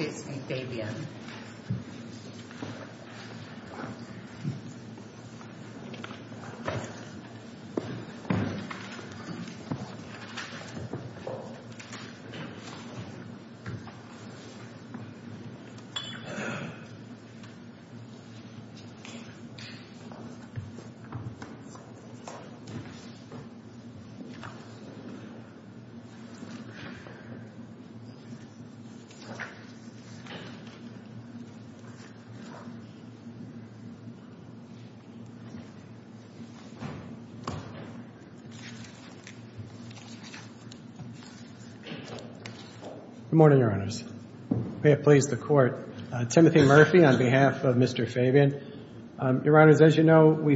is a record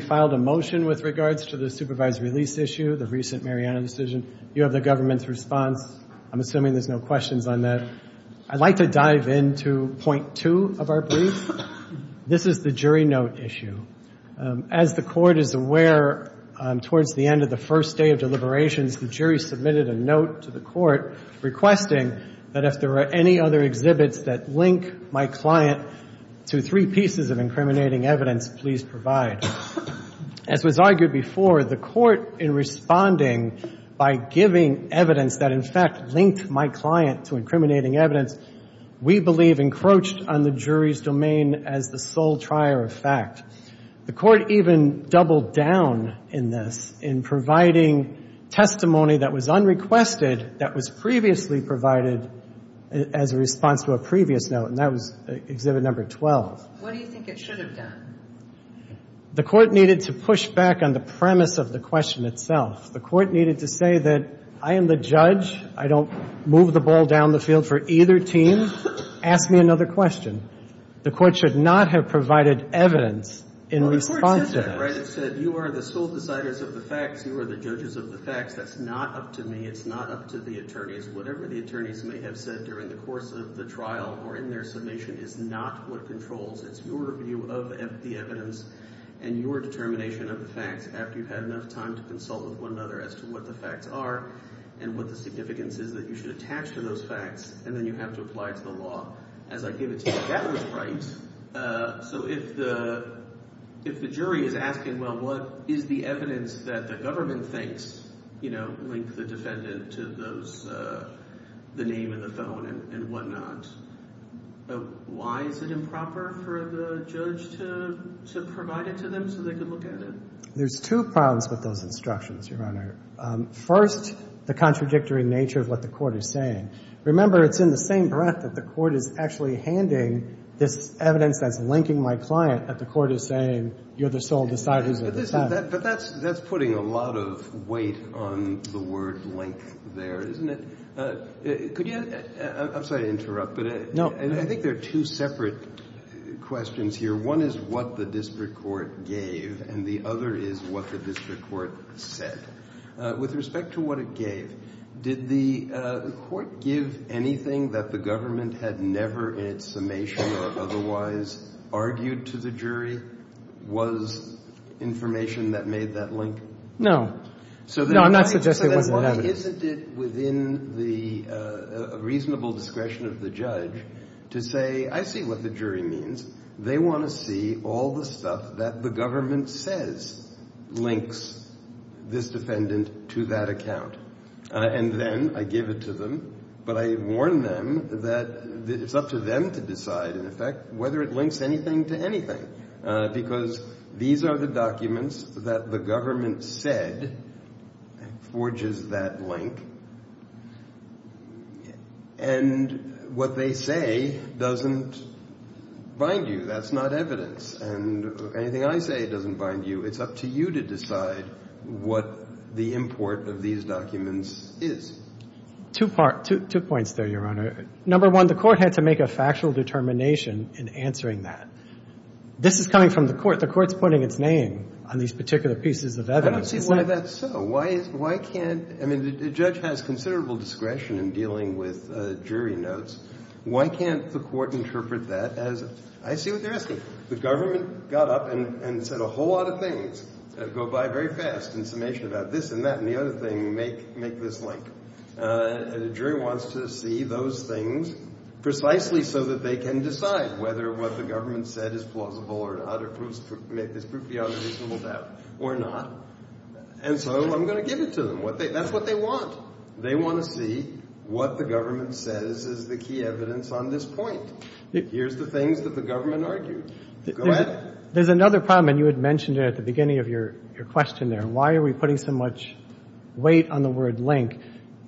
filed a motion with regards to the supervised release issue, the recent Mariana decision. You have the government's response. I'm assuming there's no questions on that. I'd like to dive into point two of our brief. This is the jury note issue. As the court is aware towards the end of the first day of deliberations, the jury submitted a note to the court requesting that if there are any other exhibits that link my client to three pieces of incriminating evidence, please provide. As was argued before, the court in responding by giving evidence that in fact linked my client to incriminating evidence, we believe encroached on the jury's domain as the sole trier of fact. The court even doubled down in this in providing testimony that was unrequested that was previously provided as a response to a previous note, and that was exhibit number 12. What do you think it should have done? The court needed to push back on the premise of the question itself. The court needed to say that I am the judge. I don't move the ball down the field for either team. Ask me another question. The court should not have provided evidence in response to that. Well, the court said that, right? It said you are the sole deciders of the facts. You are the judges of the facts. That's not up to me. It's not up to the attorneys. Whatever the attorneys may have said during the course of the trial or in their submission is not what controls. It's your view of the evidence and your determination of the facts after you've had enough time to consult with one another as to what the facts are and what the significance is that you should attach to those facts, and then you have to apply it to the law. As I give it to you, that was right. So if the jury is asking, well, what is the evidence that the government thinks, you know, linked the defendant to those, the name and the phone and whatnot, why is it improper for the judge to provide it to them so they could look at it? There's two problems with those instructions, Your Honor. First, the contradictory nature of what the court is saying. Remember, it's in the same breath that the court is actually handing this evidence that's linking my client that the court is saying you're the sole deciders of the facts. But that's putting a lot of weight on the word link there, isn't it? Could you, I'm sorry to interrupt, but I think there are two separate questions here. One is what the district court gave, and the other is what the district court said. With respect to what it gave, did the court give anything that the government had never in its summation or otherwise argued to the jury was information that made that link? No. No, I'm not suggesting it wasn't in evidence. Isn't it within the reasonable discretion of the judge to say, I see what the jury means. They want to see all the stuff that the government says links this defendant to that account. And then I give it to them, but I warn them that it's up to them to decide, in effect, whether it links anything to anything. Because these are the documents that the government said forges that link. And what they say doesn't bind you. That's not evidence. And anything I say doesn't bind you. It's up to you to decide what the import of these documents is. Two points there, Your Honor. Number one, the court had to make a factual determination in answering that. This is coming from the court. The court's putting its name on these particular pieces of evidence. I don't see why that's so. Why can't, I mean, the judge has considerable discretion in dealing with jury notes. Why can't the court interpret that as, I see what you're asking. The government got up and said a whole lot of things that go by very fast in summation about this and that. And the other thing, make this link. And the jury wants to see those things precisely so that they can decide whether what the government said is plausible or not or proves to make this proof beyond a reasonable doubt or not. And so I'm going to give it to them. That's what they want. They want to see what the government says is the key evidence on this point. Here's the things that the government argued. Go at it. There's another problem, and you had mentioned it at the beginning of your question there. Why are we putting so much weight on the word link?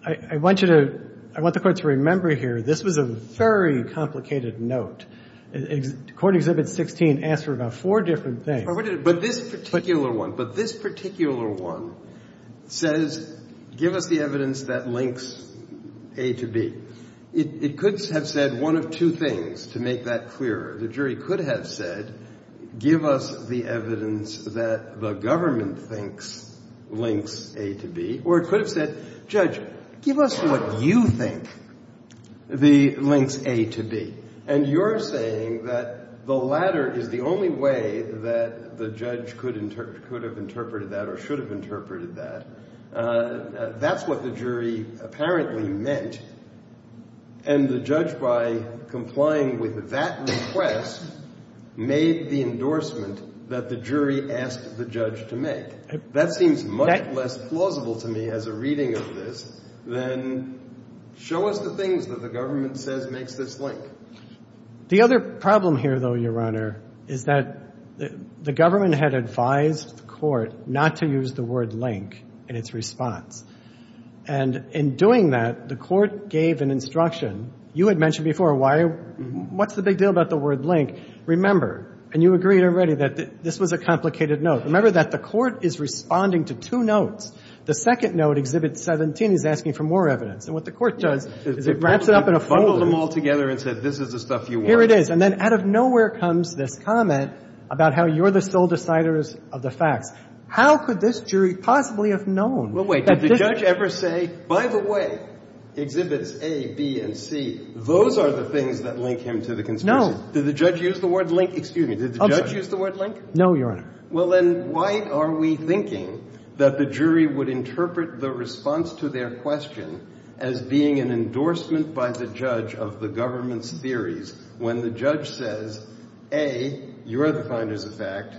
I want you to, I want the Court to remember here, this was a very complicated note. Court Exhibit 16 asked for about four different things. But this particular one, but this particular one says give us the evidence that links A to B. It could have said one of two things, to make that clearer. The jury could have said give us the evidence that the government thinks links A to B. Or it could have said, Judge, give us what you think links A to B. And you're saying that the latter is the only way that the judge could have interpreted that or should have interpreted that. That's what the jury apparently meant. And the judge, by complying with that request, made the endorsement that the jury asked the judge to make. That seems much less plausible to me as a reading of this than show us the things that the government says makes this link. The other problem here, though, Your Honor, is that the government had advised the Court not to use the word link in its response. And in doing that, the Court gave an instruction. You had mentioned before why — what's the big deal about the word link? Remember, and you agreed already, that this was a complicated note. Remember that the Court is responding to two notes. The second note, Exhibit 17, is asking for more evidence. And what the Court does is it wraps it up in a folder. It bundles them all together and says this is the stuff you want. Here it is. And then out of nowhere comes this comment about how you're the sole deciders of the facts. How could this jury possibly have known that this — Those are the things that link him to the conspiracy. Did the judge use the word link? Excuse me. Did the judge use the word link? No, Your Honor. Well, then why are we thinking that the jury would interpret the response to their question as being an endorsement by the judge of the government's theories when the judge says, A, you're the finders of fact,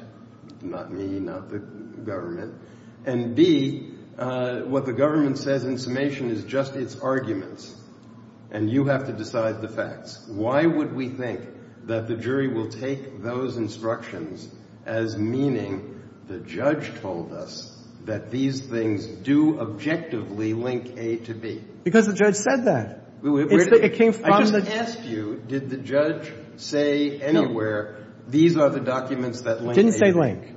not me, not the government, and B, what the government says in summation is just its arguments, and you have to decide the facts? Why would we think that the jury will take those instructions as meaning the judge told us that these things do objectively link A to B? Because the judge said that. It came from the — I just asked you, did the judge say anywhere, these are the documents that link A to B? Didn't say link.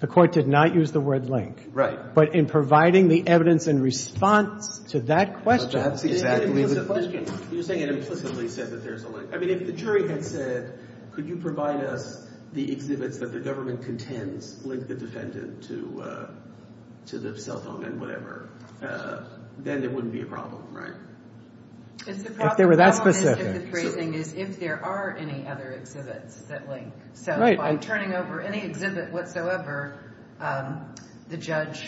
The Court did not use the word link. Right. But in providing the evidence in response to that question — But that's exactly the question. You're saying it implicitly says that there's a link. I mean, if the jury had said, could you provide us the exhibits that the government contends link the defendant to the cell phone and whatever, then there wouldn't be a problem, right? If the problem — If they were that specific. The problem is if the phrasing is if there are any other exhibits that link. Right. By turning over any exhibit whatsoever, the judge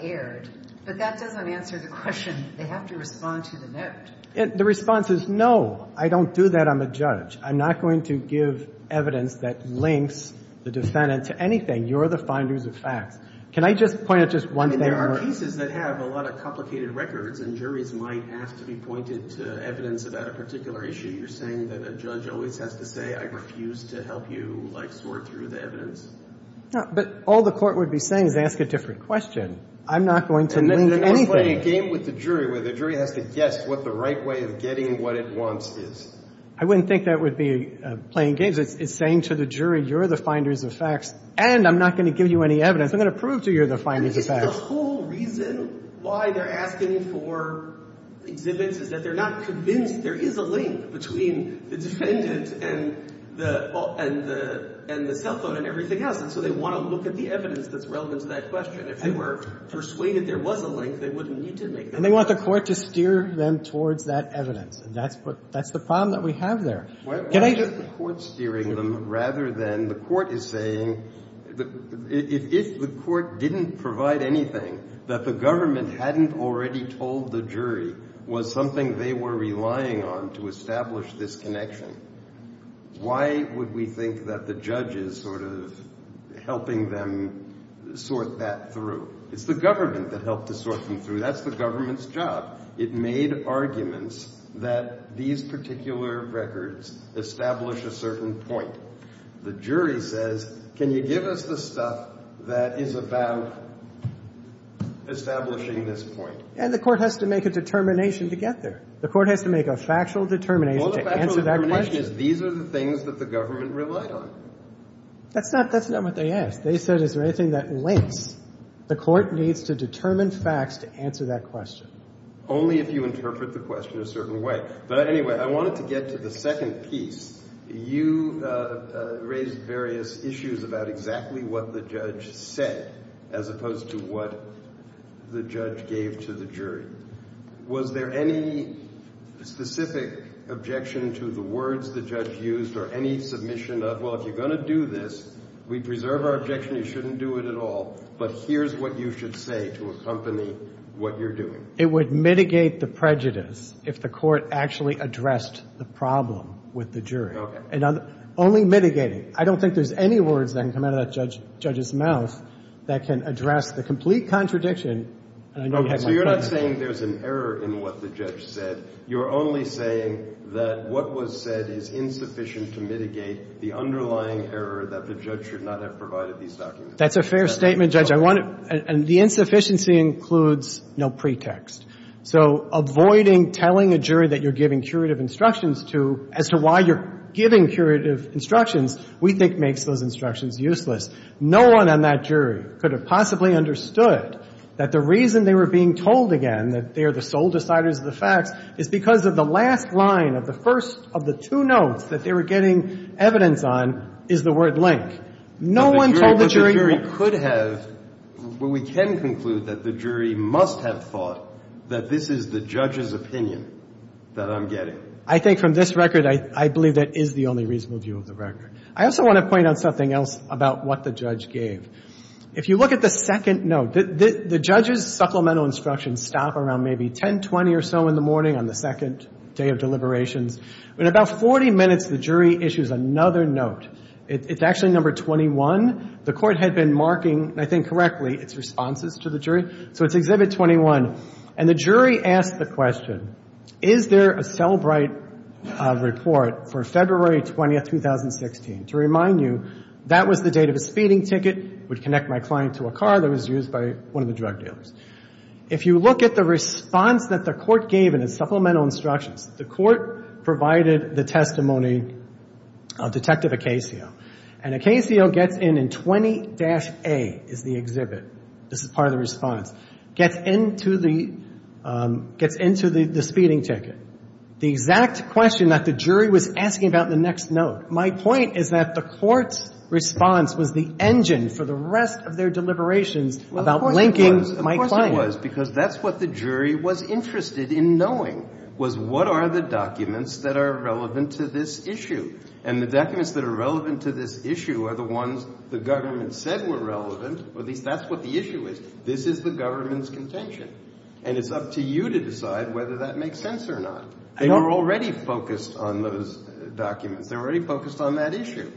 erred. But that doesn't answer the question. They have to respond to the note. The response is, no, I don't do that. I'm a judge. I'm not going to give evidence that links the defendant to anything. You're the finders of facts. Can I just point out just one thing? I mean, there are pieces that have a lot of complicated records, and juries might have to be pointed to evidence about a particular issue. You're saying that a judge always has to say, I refuse to help you, like, sort through the evidence? No. But all the court would be saying is ask a different question. I'm not going to link anything. You're not playing a game with the jury where the jury has to guess what the right way of getting what it wants is. I wouldn't think that would be playing games. It's saying to the jury, you're the finders of facts, and I'm not going to give you any evidence. I'm going to prove to you you're the finders of facts. The whole reason why they're asking for exhibits is that they're not convinced there is a link between the defendant and the cell phone and everything else. And so they want to look at the evidence that's relevant to that question. If they were persuaded there was a link, they wouldn't need to make that link. And they want the Court to steer them towards that evidence. And that's the problem that we have there. Why isn't the Court steering them rather than the Court is saying, if the Court didn't provide anything that the government hadn't already told the jury was something they were relying on to establish this connection, why would we think that the judge is sort of helping them sort that through? It's the government that helped to sort them through. That's the government's job. It made arguments that these particular records establish a certain point. The jury says, can you give us the stuff that is about establishing this point? And the Court has to make a determination to get there. The Court has to make a factual determination to answer that question. Well, the factual determination is these are the things that the government relied on. That's not what they asked. They said, is there anything that links? The Court needs to determine facts to answer that question. Only if you interpret the question a certain way. But anyway, I wanted to get to the second piece. You raised various issues about exactly what the judge said as opposed to what the judge gave to the jury. Was there any specific objection to the words the judge used or any submission of, well, if you're going to do this, we preserve our objection, you shouldn't do it at all. But here's what you should say to accompany what you're doing. It would mitigate the prejudice if the Court actually addressed the problem with the jury. Okay. And only mitigating. I don't think there's any words that can come out of that judge's mouth that can address the complete contradiction. So you're not saying there's an error in what the judge said. You're only saying that what was said is insufficient to mitigate the underlying error that the judge should not have provided these documents. That's a fair statement, Judge. And the insufficiency includes no pretext. So avoiding telling a jury that you're giving curative instructions to as to why you're giving curative instructions we think makes those instructions useless. No one on that jury could have possibly understood that the reason they were being told again that they are the sole deciders of the facts is because of the last line of the first of the two notes that they were getting evidence on is the word link. No one told the jury. But the jury could have, well, we can conclude that the jury must have thought that this is the judge's opinion that I'm getting. I think from this record, I believe that is the only reasonable view of the record. I also want to point out something else about what the judge gave. If you look at the second note, the judge's supplemental instructions stop around maybe 10, 20 or so in the morning on the second day of deliberations. In about 40 minutes, the jury issues another note. It's actually number 21. The court had been marking, I think correctly, its responses to the jury. So it's Exhibit 21. And the jury asked the question, is there a Sellbright report for February 20th, 2016? To remind you, that was the date of his feeding ticket, would connect my client to a car that was used by one of the drug dealers. If you look at the response that the court gave in its supplemental instructions, the court provided the testimony of Detective Acasio. And Acasio gets in in 20-A is the exhibit. This is part of the response. Gets into the, gets into the speeding ticket. The exact question that the jury was asking about in the next note. My point is that the court's response was the engine for the rest of their deliberations about linking my client to a car. The reason was because that's what the jury was interested in knowing, was what are the documents that are relevant to this issue? And the documents that are relevant to this issue are the ones the government said were relevant, or at least that's what the issue is. This is the government's contention. And it's up to you to decide whether that makes sense or not. They were already focused on those documents. They were already focused on that issue.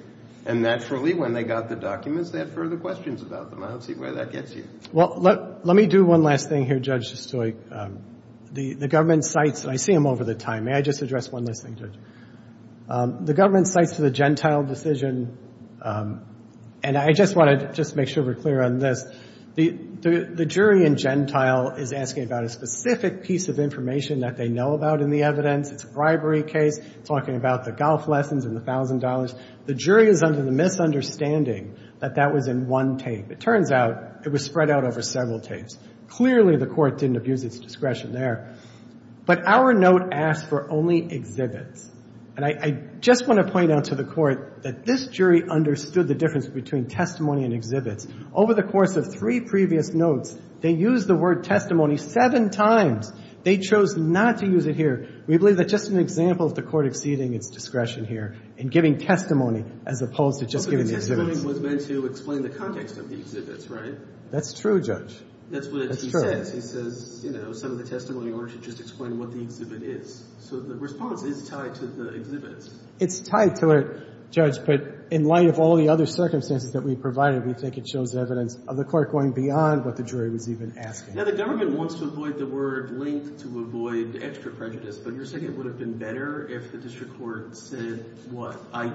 And naturally, when they got the documents, they had further questions about them. I don't see where that gets you. Well, let me do one last thing here, Judge Stoick. The government cites, and I see them over the time. May I just address one last thing, Judge? The government cites to the Gentile decision, and I just want to just make sure we're clear on this. The jury in Gentile is asking about a specific piece of information that they know about in the evidence. It's a bribery case. It's talking about the golf lessons and the $1,000. The jury is under the misunderstanding that that was in one tape. It turns out it was spread out over several tapes. Clearly, the Court didn't abuse its discretion there. But our note asks for only exhibits. And I just want to point out to the Court that this jury understood the difference between testimony and exhibits. Over the course of three previous notes, they used the word testimony seven times. They chose not to use it here. We believe that's just an example of the Court exceeding its discretion here in giving testimony as opposed to just giving exhibits. The testimony was meant to explain the context of the exhibits, right? That's true, Judge. That's what he says. He says, you know, some of the testimony in order to just explain what the exhibit is. So the response is tied to the exhibits. It's tied to it, Judge, but in light of all the other circumstances that we provided, we think it shows evidence of the Court going beyond what the jury was even asking. Now, the government wants to avoid the word linked to avoid extra prejudice, but you're saying it would have been better if the district court said, what, I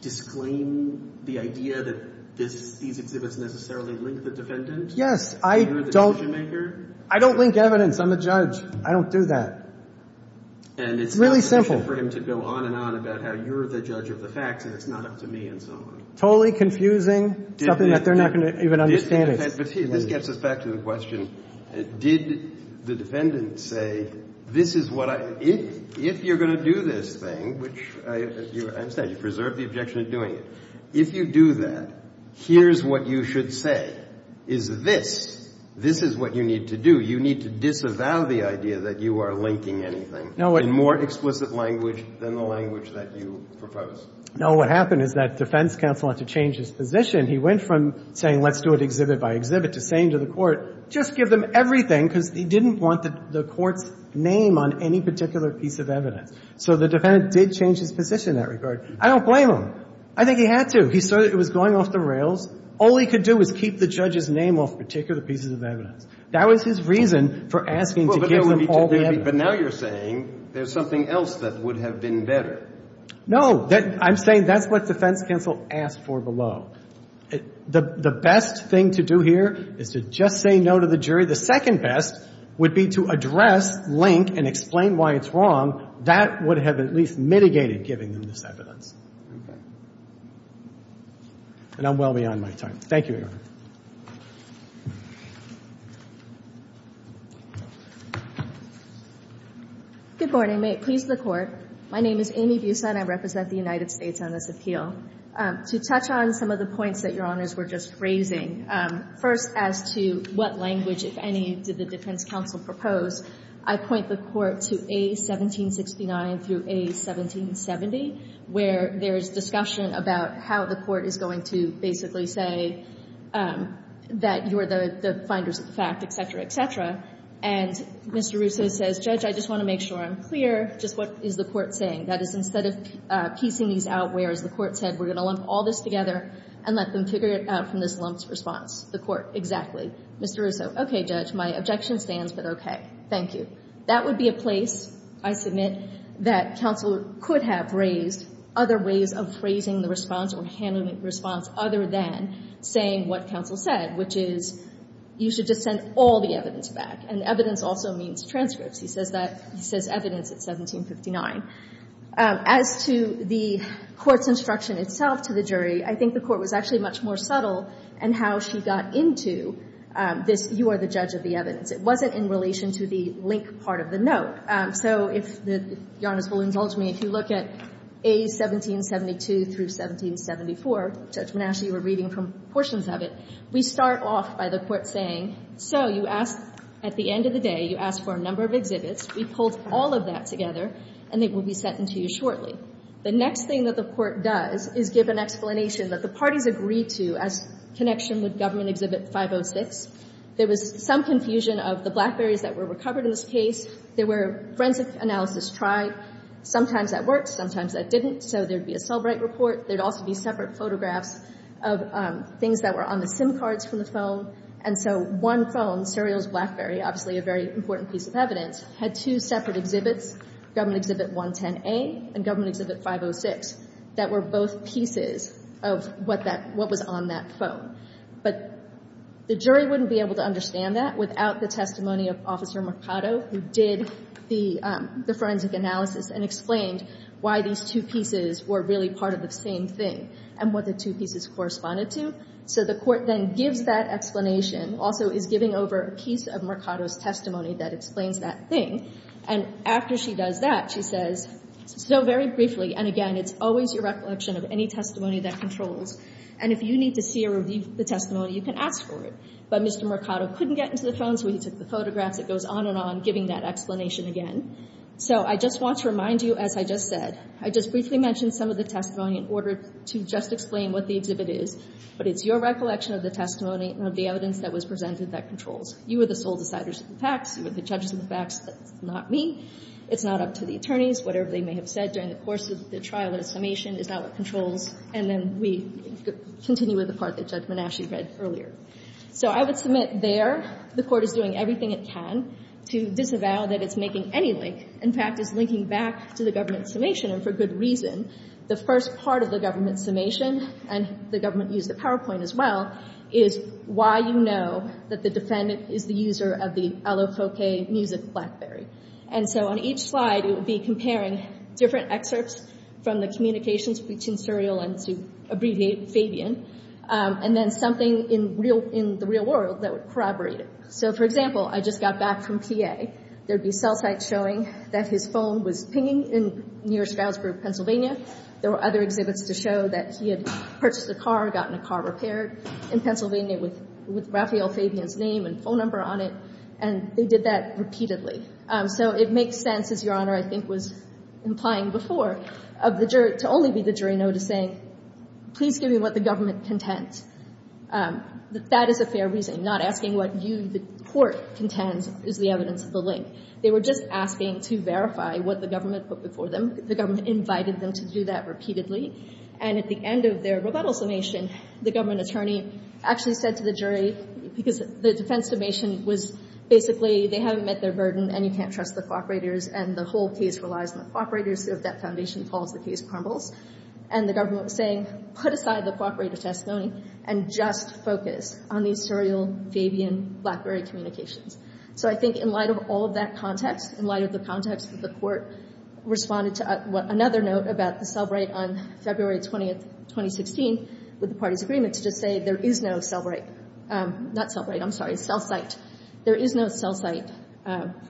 disclaim the idea that these exhibits necessarily link the defendant? Yes. I don't link evidence. I'm a judge. I don't do that. And it's not sufficient for him to go on and on about how you're the judge of the facts and it's not up to me and so on. Totally confusing, something that they're not going to even understand it. This gets us back to the question. Did the defendant say, this is what I, if you're going to do this thing, which I understand you preserved the objection of doing it. If you do that, here's what you should say. Is this, this is what you need to do. You need to disavow the idea that you are linking anything in more explicit language than the language that you propose. No, what happened is that defense counsel had to change his position. He went from saying let's do it exhibit by exhibit to saying to the Court, just give them everything because he didn't want the Court's name on any particular piece of evidence. So the defendant did change his position in that regard. I don't blame him. I think he had to. He saw that it was going off the rails. All he could do was keep the judge's name off particular pieces of evidence. That was his reason for asking to give them all the evidence. But now you're saying there's something else that would have been better. No. I'm saying that's what defense counsel asked for below. The best thing to do here is to just say no to the jury. The second best would be to address, link, and explain why it's wrong. That would have at least mitigated giving them this evidence. Okay. And I'm well beyond my time. Thank you, Your Honor. Good morning. May it please the Court. My name is Amy Buson. I represent the United States on this appeal. To touch on some of the points that Your Honors were just raising, first as to what language, if any, did the defense counsel propose, I point the Court to A1769 through A1770, where there is discussion about how the Court is going to basically say that you're the finders of the fact, et cetera, et cetera. And Mr. Russo says, Judge, I just want to make sure I'm clear just what is the Court saying. That is, instead of piecing these out where, as the Court said, we're going to lump all this together and let them figure it out from this lumped response. The Court, exactly. Mr. Russo, okay, Judge. My objection stands, but okay. Thank you. That would be a place, I submit, that counsel could have raised other ways of phrasing the response or handling the response other than saying what counsel said, which is you should just send all the evidence back. And evidence also means transcripts. He says that. He says evidence at A1759. As to the Court's instruction itself to the jury, I think the Court was actually much more subtle in how she got into this, you are the judge of the evidence. It wasn't in relation to the link part of the note. So if the Your Honors will indulge me, if you look at A1772 through A1774, Judge Manassi, you were reading from portions of it, we start off by the Court saying, so you asked at the end of the day, you asked for a number of exhibits. We pulled all of that together, and it will be sent to you shortly. The next thing that the Court does is give an explanation that the parties agreed to as connection with Government Exhibit 506. There was some confusion of the BlackBerries that were recovered in this case. There were forensic analysis tried. Sometimes that worked, sometimes that didn't. So there would be a Selbright report. There would also be separate photographs of things that were on the SIM cards from the phone. And so one phone, Cereals BlackBerry, obviously a very important piece of evidence, had two separate exhibits, Government Exhibit 110A and Government Exhibit 506, that were both pieces of what was on that phone. But the jury wouldn't be able to understand that without the testimony of Officer Mercado, who did the forensic analysis and explained why these two pieces were really part of the same thing and what the two pieces corresponded to. So the Court then gives that explanation, also is giving over a piece of Mercado's testimony that explains that thing. And after she does that, she says, so very briefly, and again, it's always your recollection of any testimony that controls. And if you need to see or review the testimony, you can ask for it. But Mr. Mercado couldn't get into the phone, so he took the photographs. It goes on and on, giving that explanation again. So I just want to remind you, as I just said, I just briefly mentioned some of the testimony in order to just explain what the exhibit is. But it's your recollection of the testimony and of the evidence that was presented that controls. You are the sole deciders of the facts. You are the judges of the facts. That's not me. It's not up to the attorneys. Whatever they may have said during the course of the trial or the summation is not what controls. And then we continue with the part that Judge Menasche read earlier. So I would submit there the Court is doing everything it can to disavow that it's making any link. In fact, it's linking back to the government summation, and for good reason. The first part of the government summation, and the government used the PowerPoint as well, is why you know that the defendant is the user of the Allo Fouquet music blackberry. And so on each slide, it would be comparing different excerpts from the communications between Suriel and, to abbreviate, Fabian, and then something in the real world that would corroborate it. So, for example, I just got back from PA. There would be cell sites showing that his phone was pinging in near Stroudsburg, Pennsylvania. There were other exhibits to show that he had purchased a car, gotten a car repaired in Pennsylvania with Raphael Fabian's name and phone number on it. And they did that repeatedly. So it makes sense, as Your Honor, I think, was implying before, to only be the jury know to say, please give me what the government contends. That is a fair reason. Not asking what you, the Court, contends is the evidence of the link. They were just asking to verify what the government put before them. The government invited them to do that repeatedly. And at the end of their rebuttal summation, the government attorney actually said to the jury, because the defense summation was basically, they haven't met their burden and you can't trust the co-operators and the whole case relies on the co-operators. If that foundation falls, the case crumbles. And the government was saying, put aside the co-operator testimony and just focus on the Suriel, Fabian, blackberry communications. So I think, in light of all of that context, in light of the context that the Court responded to another note about the cell right on February 20, 2016, with the party's agreement to just say there is no cell right, not cell right, I'm sorry, cell site. There is no cell site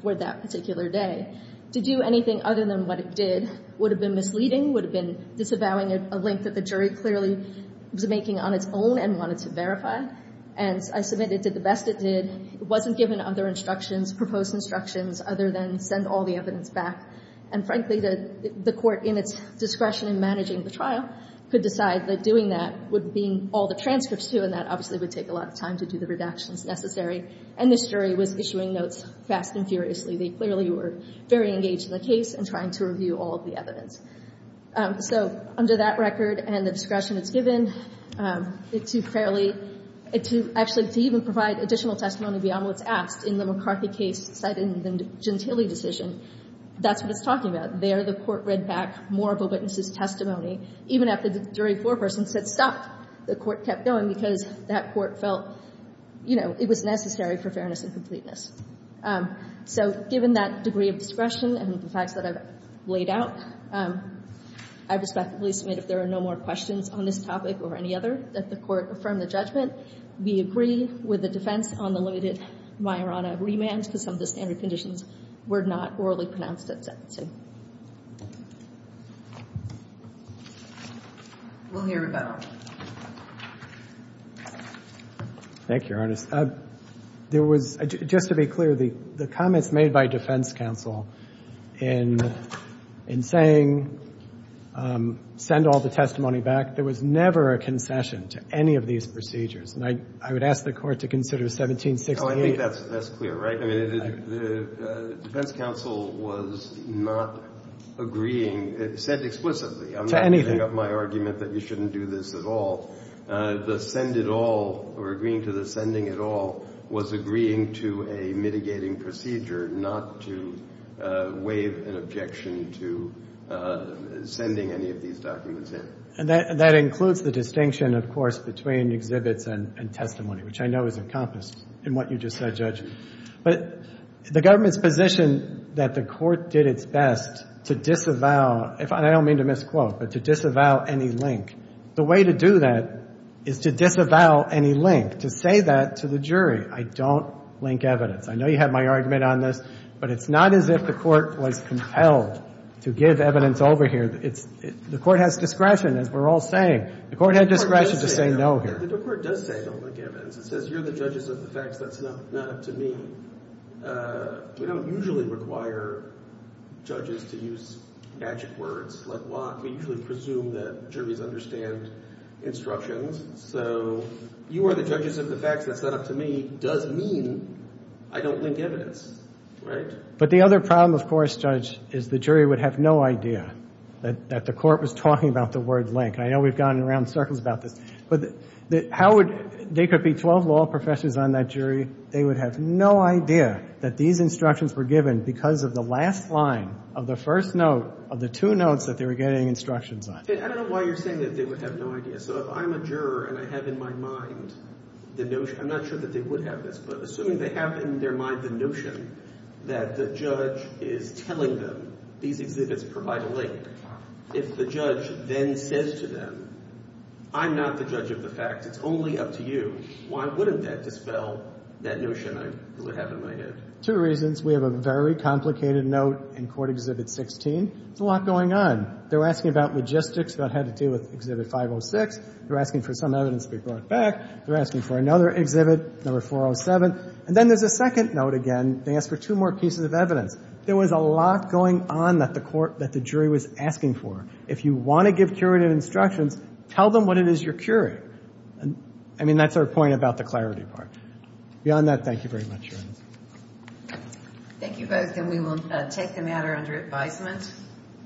for that particular day. To do anything other than what it did would have been misleading, would have been disavowing a link that the jury clearly was making on its own and wanted to verify. And I submit it did the best it did. It wasn't given other instructions, proposed instructions, other than send all the evidence back. And frankly, the Court, in its discretion in managing the trial, could decide that doing that would mean all the transcripts too and that obviously would take a lot of time to do the redactions necessary. And this jury was issuing notes fast and furiously. They clearly were very engaged in the case and trying to review all of the evidence. So under that record and the discretion it's given, to fairly, to actually even provide additional testimony beyond what's asked in the McCarthy case cited in the Gentile decision, that's what it's talking about. There the Court read back more of a witness's testimony. Even after the jury foreperson said stop, the Court kept going because that Court felt, you know, it was necessary for fairness and completeness. So given that degree of discretion and the facts that I've laid out, I respectfully submit if there are no more questions on this topic or any other, that the Court affirm the judgment. We agree with the defense on the limited Majorana remand because some of the standard conditions were not orally pronounced at that time. We'll hear about it. Thank you, Ernest. There was, just to be clear, the comments made by defense counsel in saying send all the testimony back, there was never a concession to any of these procedures. And I would ask the Court to consider 1768. Oh, I think that's clear, right? I mean, the defense counsel was not agreeing. It said explicitly. To anything. I'm not giving up my argument that you shouldn't do this at all. The send it all or agreeing to the sending it all was agreeing to a mitigating procedure not to waive an objection to sending any of these documents in. And that includes the distinction, of course, between exhibits and testimony, which I know is encompassed in what you just said, Judge. But the government's position that the Court did its best to disavow, and I don't mean to misquote, but to disavow any link, the way to do that is to disavow any link, to say that to the jury, I don't link evidence. I know you have my argument on this, but it's not as if the Court was compelled to give evidence over here. The Court has discretion, as we're all saying. The Court had discretion to say no here. The Court does say no link evidence. It says you're the judges of the facts. That's not up to me. We don't usually require judges to use magic words like walk. We usually presume that juries understand instructions. So you are the judges of the facts. That's not up to me. Does mean I don't link evidence, right? But the other problem, of course, Judge, is the jury would have no idea that the Court was talking about the word link. I know we've gone in round circles about this, but they could be 12 law professors on that jury. They would have no idea that these instructions were given because of the last line of the first note of the two notes that they were getting instructions on. I don't know why you're saying that they would have no idea. So if I'm a juror and I have in my mind the notion, I'm not sure that they would have this, but assuming they have in their mind the notion that the judge is telling them these exhibits provide a link, if the judge then says to them, I'm not the judge of the facts, it's only up to you, why wouldn't that dispel that notion I have in my head? Two reasons. We have a very complicated note in Court Exhibit 16. There's a lot going on. They're asking about logistics, about how to deal with Exhibit 506. They're asking for some evidence to be brought back. They're asking for another exhibit, No. 407. And then there's a second note again. They ask for two more pieces of evidence. There was a lot going on that the jury was asking for. If you want to give curative instructions, tell them what it is you're curating. I mean, that's our point about the clarity part. Beyond that, thank you very much. Thank you both, and we will take the matter under advisement.